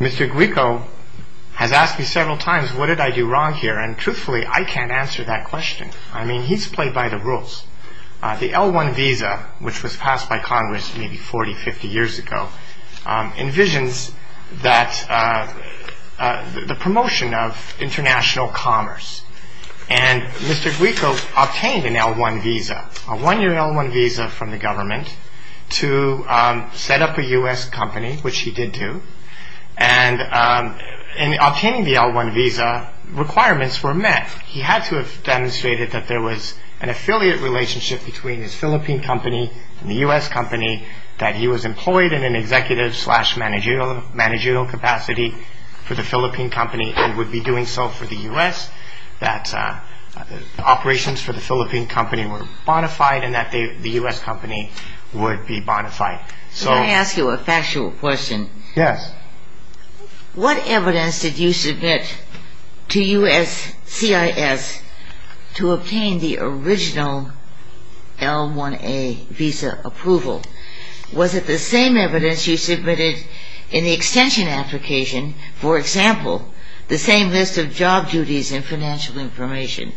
Mr. Guico has asked me several times, what did I do wrong here? Truthfully, I can't answer that question. He's played by the rules. The L-1 visa, which was passed by Congress maybe 40, 50 years ago, envisions the promotion of international commerce. And Mr. Guico obtained an L-1 visa, a one-year L-1 visa from the government to set up a U.S. company, which he did do. And in obtaining the L-1 visa, requirements were met. He had to have demonstrated that there was an affiliate relationship between his Philippine company and the U.S. company, that he was employed in an executive-slash-managerial capacity for the Philippine company and would be doing so for the U.S., that operations for the Philippine company were bona fide, and that the U.S. company would be bona fide. Can I ask you a factual question? Yes. What evidence did you submit to USCIS to obtain the original L-1A visa approval? Was it the same evidence you submitted in the extension application, for example, the same list of job duties and financial information?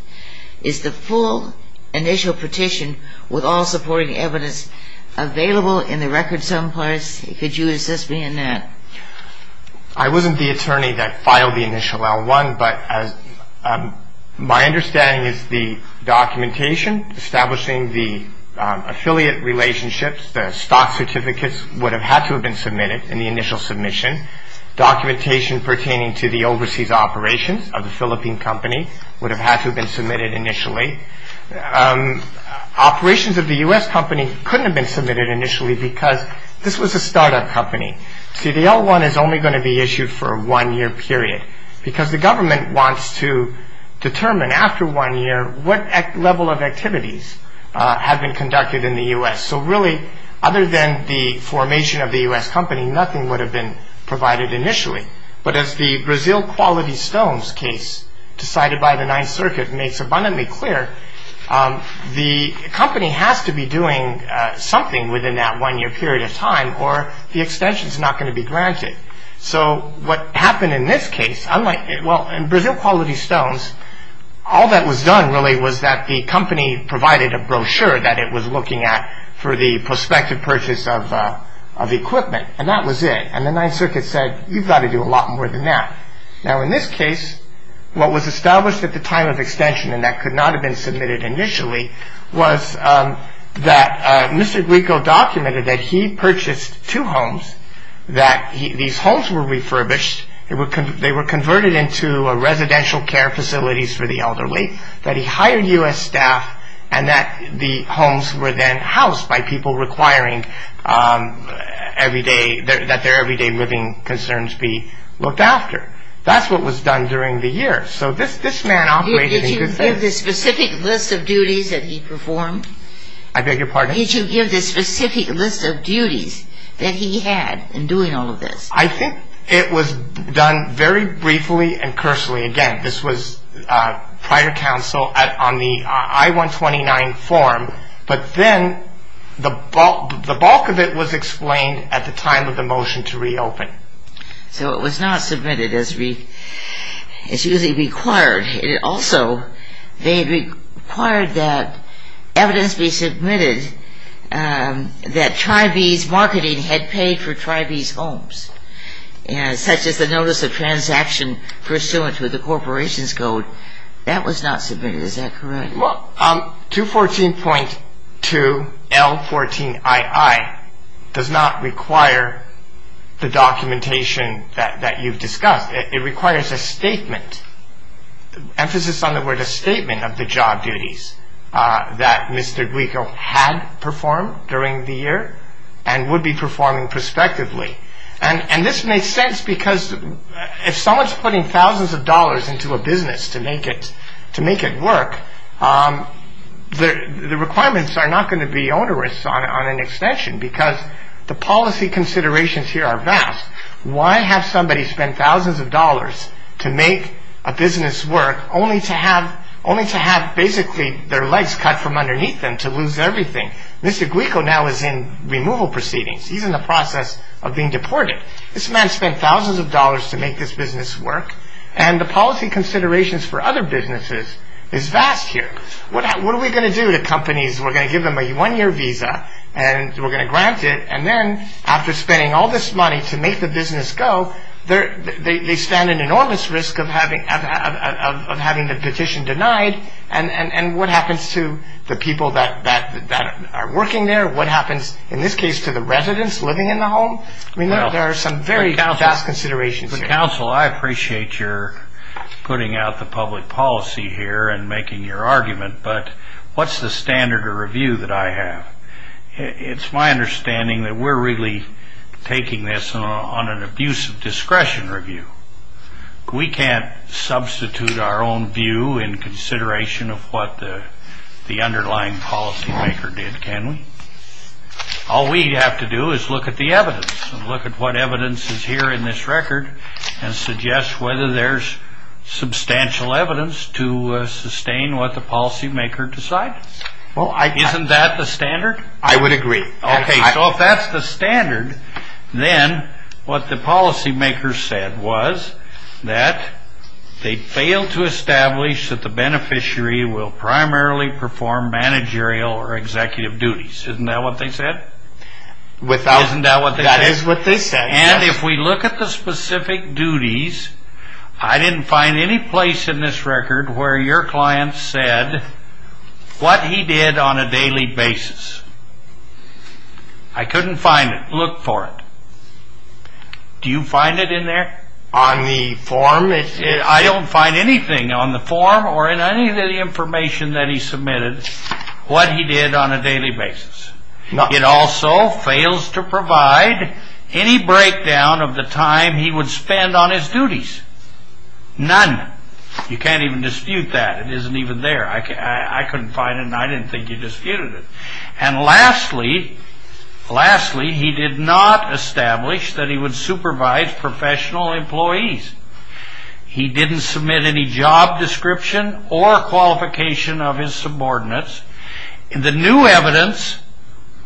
Is the full initial petition with all supporting evidence available in the record someplace? Could you assist me in that? I wasn't the attorney that filed the initial L-1, but my understanding is the documentation establishing the affiliate relationships, the stock certificates would have had to have been submitted in the initial submission. Documentation pertaining to the overseas operations of the Philippine company would have had to have been submitted initially. Operations of the U.S. company couldn't have been submitted initially because this was a startup company. See, the L-1 is only going to be issued for a one-year period because the government wants to determine after one year what level of activities have been conducted in the U.S. So really, other than the formation of the U.S. company, nothing would have been provided initially. But as the Brazil Quality Stones case decided by the Ninth Circuit makes abundantly clear, the company has to be doing something within that one-year period of time or the extension is not going to be granted. So what happened in this case, unlike – well, in Brazil Quality Stones, all that was done really was that the company provided a brochure that it was looking at for the prospective purchase of equipment, and that was it. And the Ninth Circuit said, you've got to do a lot more than that. Now, in this case, what was established at the time of extension, and that could not have been submitted initially, was that Mr. Grieco documented that he purchased two homes, that these homes were refurbished. They were converted into residential care facilities for the elderly, that he hired U.S. staff, and that the homes were then housed by people requiring that their everyday living concerns be looked after. That's what was done during the year. So this man operated in good faith. Did you give the specific list of duties that he performed? I beg your pardon? Did you give the specific list of duties that he had in doing all of this? I think it was done very briefly and personally. Again, this was prior counsel on the I-129 form, but then the bulk of it was explained at the time of the motion to reopen. So it was not submitted as usually required. Also, they required that evidence be submitted that Tribease Marketing had paid for Tribease Homes, such as the notice of transaction pursuant to the Corporation's Code. That was not submitted. Is that correct? Well, 214.2L14II does not require the documentation that you've discussed. It requires a statement, emphasis on the word a statement, of the job duties that Mr. Guico had performed during the year and would be performing prospectively. And this makes sense because if someone's putting thousands of dollars into a business to make it work, the requirements are not going to be onerous on an extension because the policy considerations here are vast. Why have somebody spend thousands of dollars to make a business work, only to have basically their legs cut from underneath them to lose everything? Mr. Guico now is in removal proceedings. He's in the process of being deported. This man spent thousands of dollars to make this business work, and the policy considerations for other businesses is vast here. What are we going to do to companies? We're going to give them a one-year visa and we're going to grant it, and then after spending all this money to make the business go, they stand an enormous risk of having the petition denied. And what happens to the people that are working there? What happens, in this case, to the residents living in the home? I mean, there are some very vast considerations here. But, counsel, I appreciate your putting out the public policy here and making your argument, but what's the standard of review that I have? It's my understanding that we're really taking this on an abusive discretion review. We can't substitute our own view in consideration of what the underlying policymaker did, can we? All we have to do is look at the evidence and look at what evidence is here in this record and suggest whether there's substantial evidence to sustain what the policymaker decided. Isn't that the standard? I would agree. Okay, so if that's the standard, then what the policymaker said was that they failed to establish that the beneficiary will primarily perform managerial or executive duties. Isn't that what they said? Isn't that what they said? That is what they said, yes. And if we look at the specific duties, I didn't find any place in this record where your client said what he did on a daily basis. I couldn't find it. Look for it. Do you find it in there? On the form? I don't find anything on the form or in any of the information that he submitted what he did on a daily basis. It also fails to provide any breakdown of the time he would spend on his duties. None. You can't even dispute that. It isn't even there. I couldn't find it and I didn't think you disputed it. And lastly, he did not establish that he would supervise professional employees. He didn't submit any job description or qualification of his subordinates. In the new evidence,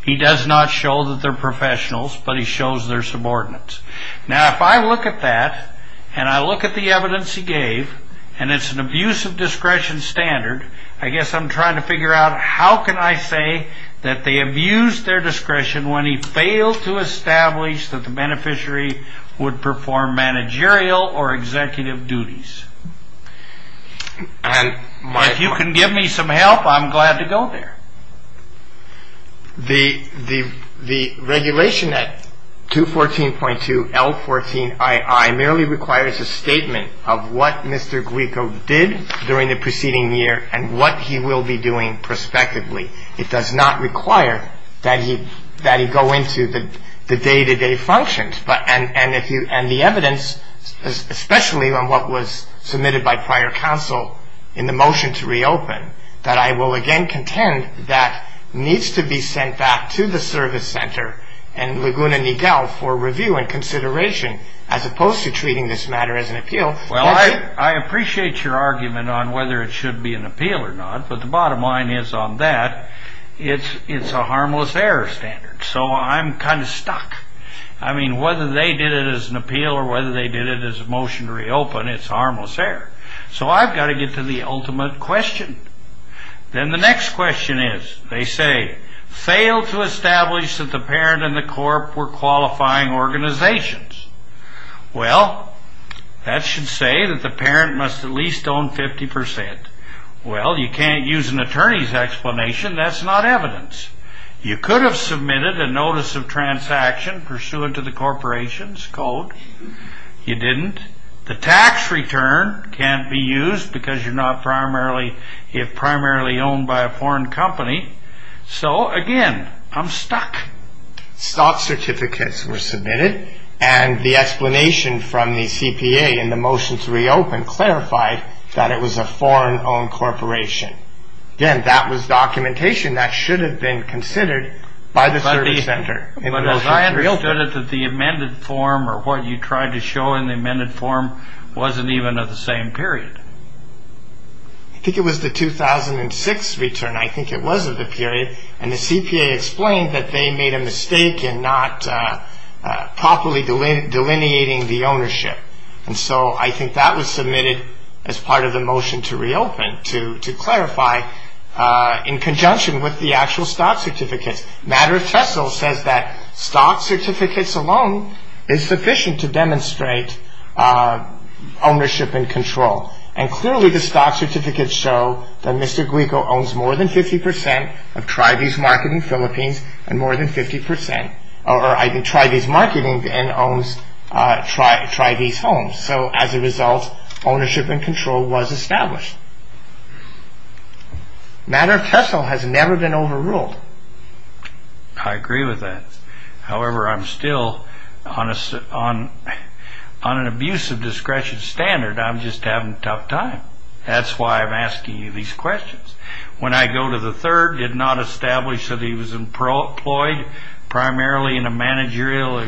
he does not show that they're professionals, but he shows they're subordinates. Now, if I look at that and I look at the evidence he gave and it's an abuse of discretion standard, I guess I'm trying to figure out how can I say that they abused their discretion when he failed to establish that the beneficiary would perform managerial or executive duties. If you can give me some help, I'm glad to go there. The regulation at 214.2L14II merely requires a statement of what Mr. Glico did during the preceding year and what he will be doing prospectively. It does not require that he go into the day-to-day functions. And the evidence, especially on what was submitted by prior counsel in the motion to reopen, that I will again contend that needs to be sent back to the service center and Laguna Niguel for review and consideration as opposed to treating this matter as an appeal. Well, I appreciate your argument on whether it should be an appeal or not, but the bottom line is on that it's a harmless error standard. So I'm kind of stuck. I mean, whether they did it as an appeal or whether they did it as a motion to reopen, it's harmless error. So I've got to get to the ultimate question. Then the next question is, they say, failed to establish that the parent and the corp were qualifying organizations. Well, that should say that the parent must at least own 50%. Well, you can't use an attorney's explanation. That's not evidence. You could have submitted a notice of transaction pursuant to the corporation's code. You didn't. The tax return can't be used because you're not primarily owned by a foreign company. So, again, I'm stuck. Stock certificates were submitted, and the explanation from the CPA in the motion to reopen clarified that it was a foreign-owned corporation. Again, that was documentation that should have been considered by the service center. But as I understood it, the amended form or what you tried to show in the amended form wasn't even of the same period. I think it was the 2006 return. I think it was of the period. And the CPA explained that they made a mistake in not properly delineating the ownership. And so I think that was submitted as part of the motion to reopen to clarify, in conjunction with the actual stock certificates. Matter of fact, it says that stock certificates alone is sufficient to demonstrate ownership and control. And clearly, the stock certificates show that Mr. Guigo owns more than 50% of Tri-V's Market in the Philippines, and more than 50% of Tri-V's Marketing owns Tri-V's Homes. So, as a result, ownership and control was established. Matter of fact, it has never been overruled. I agree with that. However, I'm still on an abusive discretion standard. I'm just having a tough time. That's why I'm asking you these questions. When I go to the third, did not establish that he was employed primarily in a managerial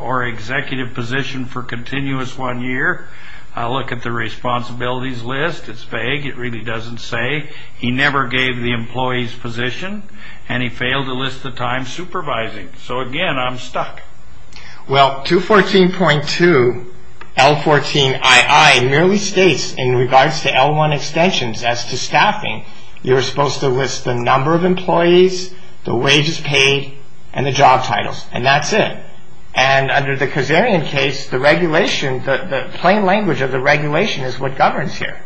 or executive position for continuous one year. I look at the responsibilities list. It's vague. It really doesn't say. He never gave the employees' position, and he failed to list the time supervising. So, again, I'm stuck. Well, 214.2 L14II merely states, in regards to L1 extensions as to staffing, you're supposed to list the number of employees, the wages paid, and the job titles, and that's it. And under the Kazarian case, the regulation, the plain language of the regulation is what governs here.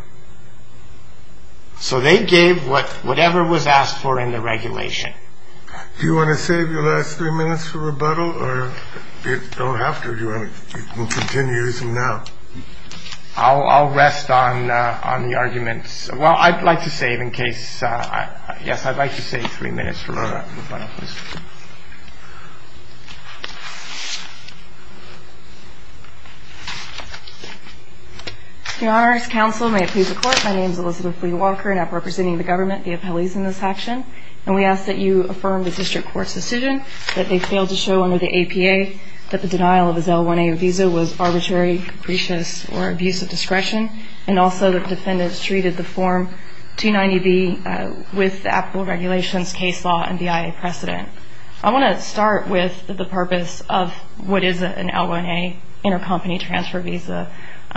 So they gave whatever was asked for in the regulation. Do you want to save your last three minutes for rebuttal? Or you don't have to. You can continue using them now. I'll rest on the arguments. Well, I'd like to save in case. Yes, I'd like to save three minutes for rebuttal. Your Honor, as counsel, may it please the Court, my name is Elizabeth Lee Walker, and I'm representing the government, the appellees in this action, and we ask that you affirm the district court's decision that they failed to show under the APA that the denial of his L1A visa was arbitrary, capricious, or abuse of discretion, and also that defendants treated the Form 290B with the applicable regulations, case law, and BIA precedent. I want to start with the purpose of what is an L1A intercompany transfer visa,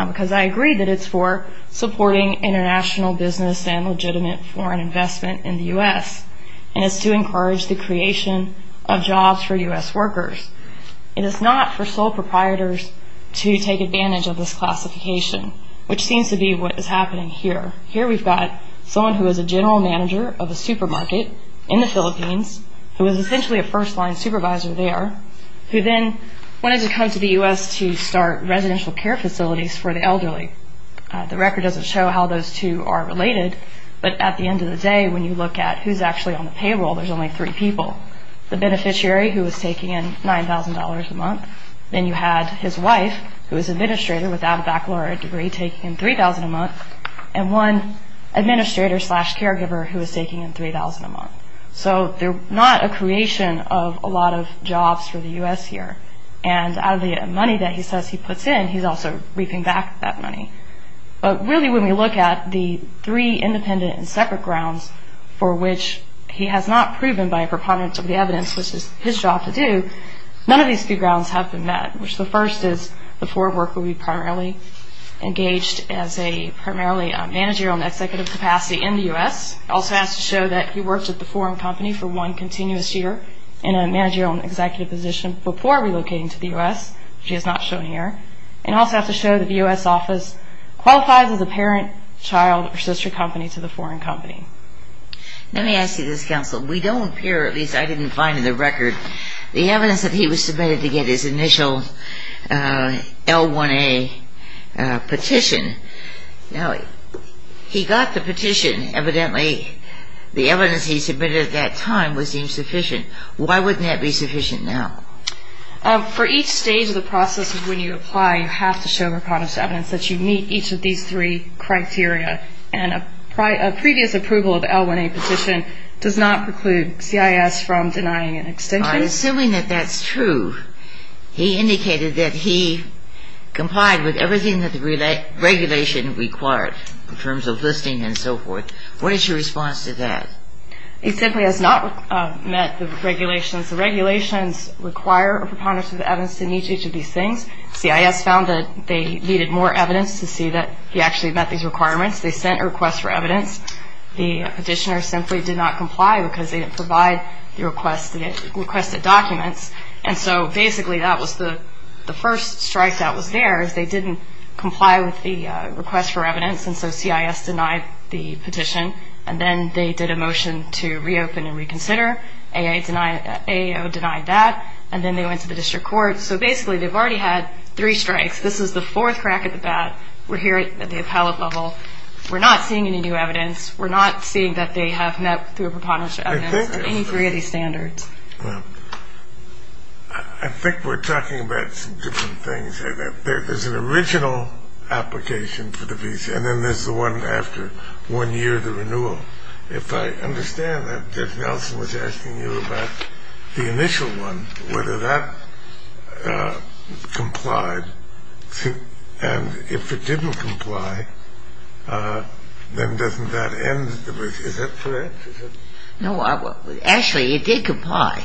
because I agree that it's for supporting international business and legitimate foreign investment in the U.S., and it's to encourage the creation of jobs for U.S. workers. It is not for sole proprietors to take advantage of this classification, which seems to be what is happening here. Here we've got someone who is a general manager of a supermarket in the Philippines who is essentially a first-line supervisor there who then wanted to come to the U.S. to start residential care facilities for the elderly. The record doesn't show how those two are related, but at the end of the day when you look at who's actually on the payroll, there's only three people. The beneficiary, who is taking in $9,000 a month, then you had his wife, who is an administrator without a baccalaureate degree, taking in $3,000 a month, and one administrator-slash-caregiver who is taking in $3,000 a month. So they're not a creation of a lot of jobs for the U.S. here, and out of the money that he says he puts in, he's also reaping back that money. But really when we look at the three independent and separate grounds for which he has not proven by a preponderance of the evidence, which is his job to do, none of these three grounds have been met, which the first is the foreign worker will be primarily engaged as a primarily managerial and executive capacity in the U.S., also has to show that he worked at the foreign company for one continuous year in a managerial and executive position before relocating to the U.S., which he has not shown here, and also has to show that the U.S. office qualifies as a parent, child, or sister company to the foreign company. Let me ask you this, Counsel. We don't appear, or at least I didn't find in the record, the evidence that he was submitted to get his initial L1A petition. Now, he got the petition. Evidently, the evidence he submitted at that time was deemed sufficient. Why wouldn't that be sufficient now? For each stage of the process of when you apply, you have to show a preponderance of evidence that you meet each of these three criteria. And a previous approval of L1A petition does not preclude CIS from denying an extension. Assuming that that's true, he indicated that he complied with everything that the regulation required in terms of listing and so forth. What is your response to that? He simply has not met the regulations. The regulations require a preponderance of evidence to meet each of these things. CIS found that they needed more evidence to see that he actually met these requirements. They sent a request for evidence. The petitioner simply did not comply because they didn't provide the requested documents. And so, basically, that was the first strike that was there, is they didn't comply with the request for evidence, and so CIS denied the petition. And then they did a motion to reopen and reconsider. AAO denied that, and then they went to the district court. So, basically, they've already had three strikes. This is the fourth crack at the bat. We're here at the appellate level. We're not seeing any new evidence. We're not seeing that they have met, through a preponderance of evidence, any three of these standards. I think we're talking about some different things. There's an original application for the visa, and then there's the one after, one year of the renewal. If I understand that, Judge Nelson was asking you about the initial one, whether that complied. And if it didn't comply, then doesn't that end the visa? Is that correct? No. Actually, it did comply.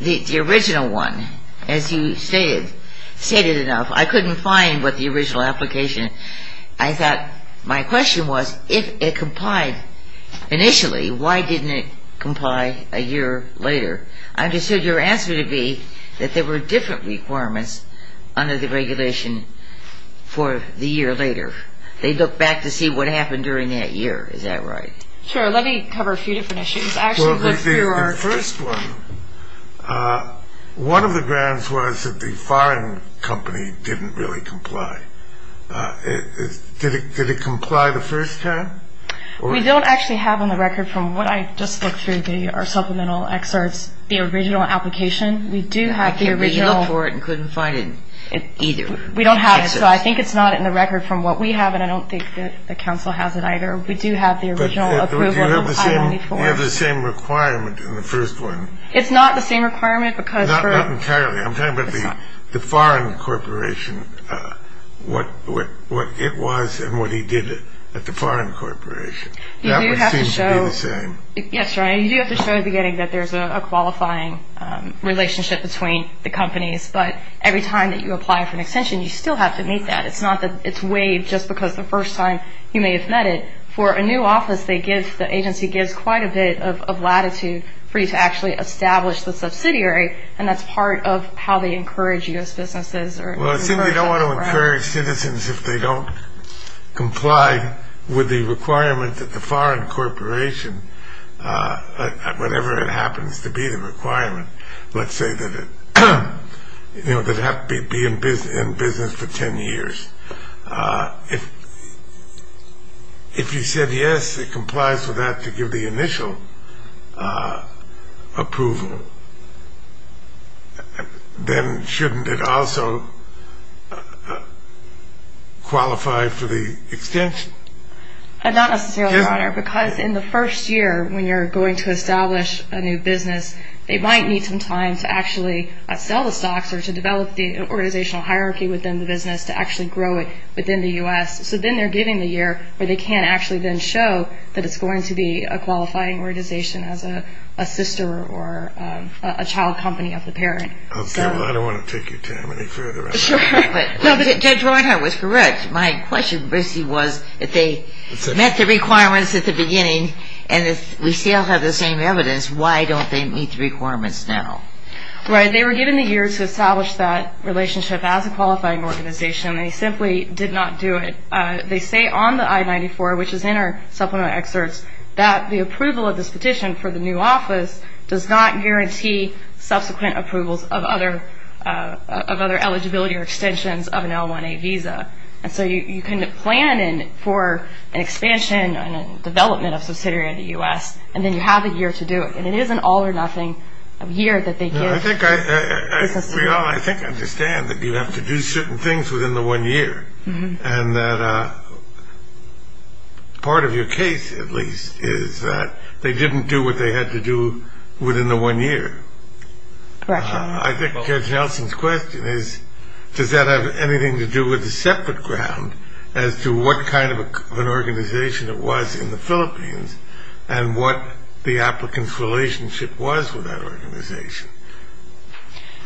The original one, as you stated, stated enough. I couldn't find what the original application. I thought my question was, if it complied initially, why didn't it comply a year later? I understood your answer to be that there were different requirements under the regulation for the year later. They look back to see what happened during that year. Is that right? Sure. Let me cover a few different issues. Well, the first one, one of the grounds was that the firing company didn't really comply. Did it comply the first time? We don't actually have on the record from what I just looked through our supplemental excerpts the original application. We do have the original. I can't really look for it and couldn't find it either. We don't have it, so I think it's not in the record from what we have, and I don't think that the counsel has it either. We do have the original approval. But you have the same requirement in the first one. It's not the same requirement because for – You do have to show – That would seem to be the same. Yes, right. You do have to show at the beginning that there's a qualifying relationship between the companies, but every time that you apply for an extension, you still have to meet that. It's not that it's waived just because the first time you may have met it. For a new office, they give – the agency gives quite a bit of latitude for you to actually establish the subsidiary, and that's part of how they encourage U.S. businesses. Well, it seems they don't want to encourage citizens if they don't comply with the requirement that the foreign corporation, whatever it happens to be the requirement, let's say that it has to be in business for 10 years. If you said yes, it complies with that to give the initial approval, then shouldn't it also qualify for the extension? Not necessarily, Your Honor, because in the first year when you're going to establish a new business, they might need some time to actually sell the stocks or to develop the organizational hierarchy within the business to actually grow it within the U.S. So then they're giving the year where they can actually then show that it's going to be a qualifying organization as a sister or a child company of the parent. Okay, well, I don't want to take your time any further on that. No, but Judge Reinhart was correct. My question, Brucey, was if they met the requirements at the beginning and if we still have the same evidence, why don't they meet the requirements now? Right. They were given the year to establish that relationship as a qualifying organization. They simply did not do it. They say on the I-94, which is in our supplement excerpts, that the approval of this petition for the new office does not guarantee subsequent approvals of other eligibility or extensions of an L-1A visa. And so you can plan for an expansion and a development of subsidiary in the U.S., and then you have a year to do it, and it is an all-or-nothing year that they give. I think I understand that you have to do certain things within the one year and that part of your case, at least, is that they didn't do what they had to do within the one year. Correct. I think Judge Nelson's question is does that have anything to do with a separate ground as to what kind of an organization it was in the Philippines and what the applicant's relationship was with that organization.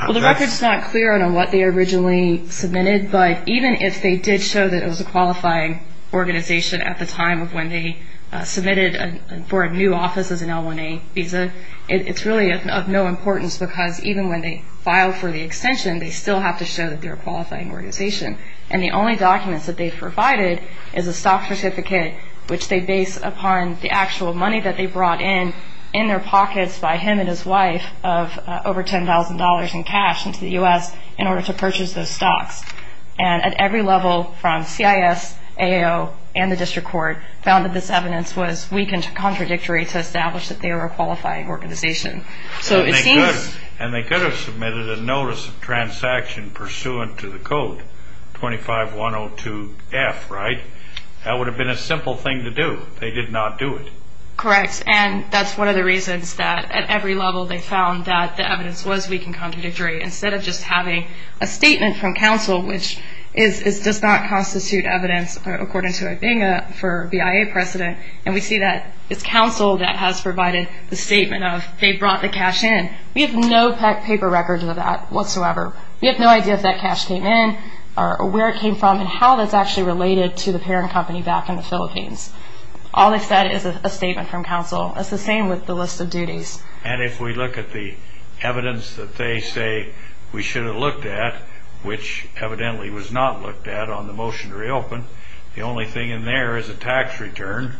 Well, the record is not clear on what they originally submitted, but even if they did show that it was a qualifying organization at the time of when they submitted for a new office as an L-1A visa, it's really of no importance because even when they filed for the extension, they still have to show that they're a qualifying organization. And the only documents that they've provided is a stock certificate, which they base upon the actual money that they brought in, in their pockets by him and his wife of over $10,000 in cash, into the U.S. in order to purchase those stocks. And at every level from CIS, AAO, and the district court found that this evidence was weak and contradictory to establish that they were a qualifying organization. And they could have submitted a notice of transaction pursuant to the code 25-102-F, right? That would have been a simple thing to do. They did not do it. Correct. And that's one of the reasons that at every level they found that the evidence was weak and contradictory instead of just having a statement from counsel, which does not constitute evidence, according to Ibinga, for BIA precedent. And we see that it's counsel that has provided the statement of they brought the cash in. We have no paper records of that whatsoever. We have no idea if that cash came in or where it came from and how that's actually related to the parent company back in the Philippines. All they said is a statement from counsel. It's the same with the list of duties. And if we look at the evidence that they say we should have looked at, which evidently was not looked at on the motion to reopen, the only thing in there is a tax return,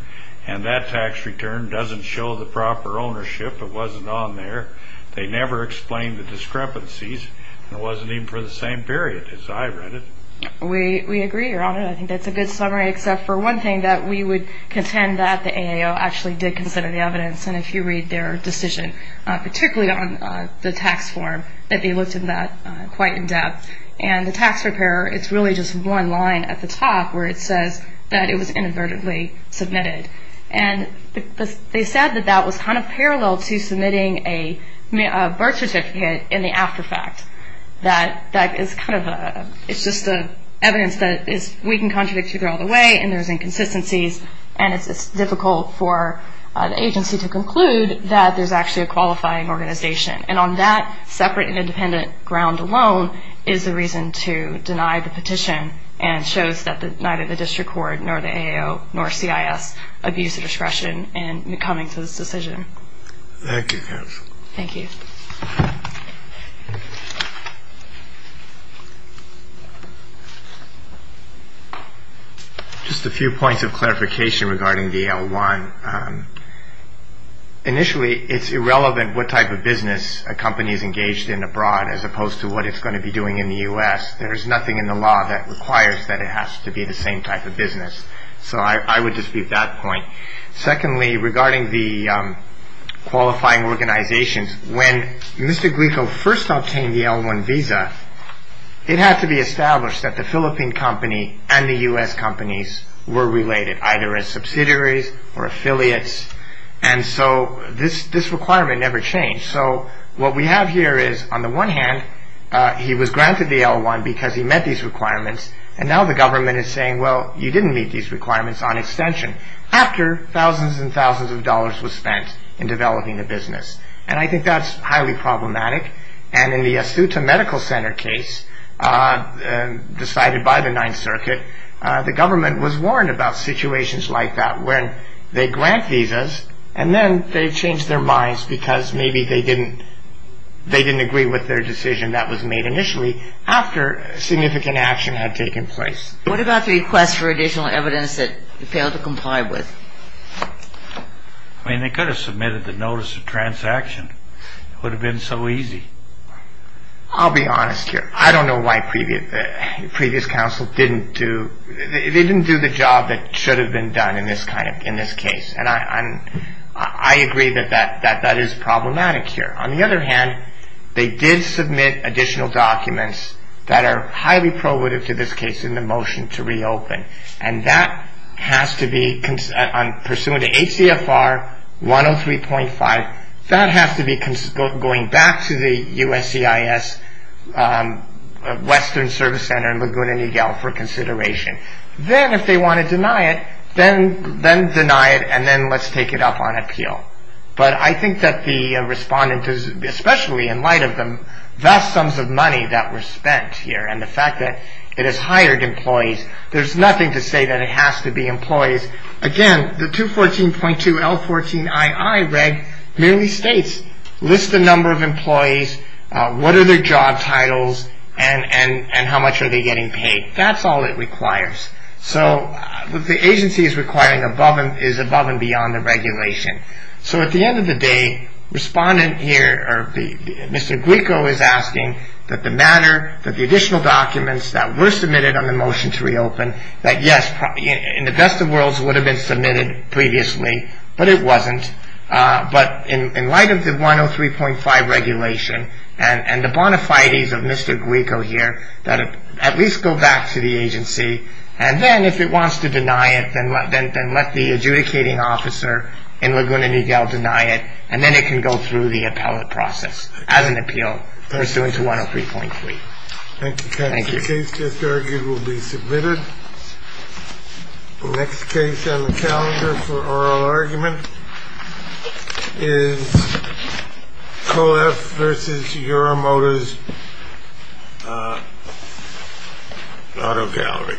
and that tax return doesn't show the proper ownership. It wasn't on there. They never explained the discrepancies, and it wasn't even for the same period as I read it. We agree, Your Honor. I think that's a good summary except for one thing, that we would contend that the AAO actually did consider the evidence. And if you read their decision, particularly on the tax form, that they looked at that quite in depth. And the tax repair, it's really just one line at the top where it says that it was inadvertently submitted. And they said that that was kind of parallel to submitting a birth certificate in the after fact. That is kind of a – it's just evidence that we can contradict you all the way and there's inconsistencies and it's difficult for the agency to conclude that there's actually a qualifying organization. And on that separate and independent ground alone is the reason to deny the petition and shows that neither the district court nor the AAO nor CIS abused the discretion in coming to this decision. Thank you, counsel. Thank you. Just a few points of clarification regarding the L-1. Initially, it's irrelevant what type of business a company is engaged in abroad as opposed to what it's going to be doing in the U.S. There's nothing in the law that requires that it has to be the same type of business. So I would dispute that point. Secondly, regarding the qualifying organizations, when Mr. Glico first obtained the L-1 visa, it had to be established that the Philippine company and the U.S. companies were related, either as subsidiaries or affiliates, and so this requirement never changed. So what we have here is, on the one hand, he was granted the L-1 because he met these requirements and now the government is saying, well, you didn't meet these requirements on extension. After thousands and thousands of dollars was spent in developing the business. And I think that's highly problematic. And in the Asuta Medical Center case decided by the Ninth Circuit, the government was warned about situations like that where they grant visas and then they change their minds because maybe they didn't agree with their decision that was made initially after significant action had taken place. What about the request for additional evidence that they failed to comply with? I mean, they could have submitted the notice of transaction. It would have been so easy. I'll be honest here. I don't know why previous counsel didn't do the job that should have been done in this case. And I agree that that is problematic here. On the other hand, they did submit additional documents that are highly probative to this case in the motion to reopen, and that has to be, pursuant to ACFR 103.5, that has to be going back to the USCIS Western Service Center in Laguna Niguel for consideration. Then if they want to deny it, then deny it and then let's take it up on appeal. But I think that the respondent, especially in light of the vast sums of money that was spent here and the fact that it has hired employees, there's nothing to say that it has to be employees. Again, the 214.2 L-14ii reg merely states, list the number of employees, what are their job titles, and how much are they getting paid. That's all it requires. So the agency is above and beyond the regulation. So at the end of the day, Mr. Guico is asking that the matter, that the additional documents that were submitted on the motion to reopen, that yes, in the best of worlds, would have been submitted previously, but it wasn't. But in light of the 103.5 regulation and the bona fides of Mr. Guico here, that at least go back to the agency. And then if it wants to deny it, then let the adjudicating officer in Laguna Niguel deny it. And then it can go through the appellate process as an appeal pursuant to 103.3. Thank you. The case just argued will be submitted. The next case on the calendar for oral argument is Co-F versus Euromotors Auto Gallery. Thank you.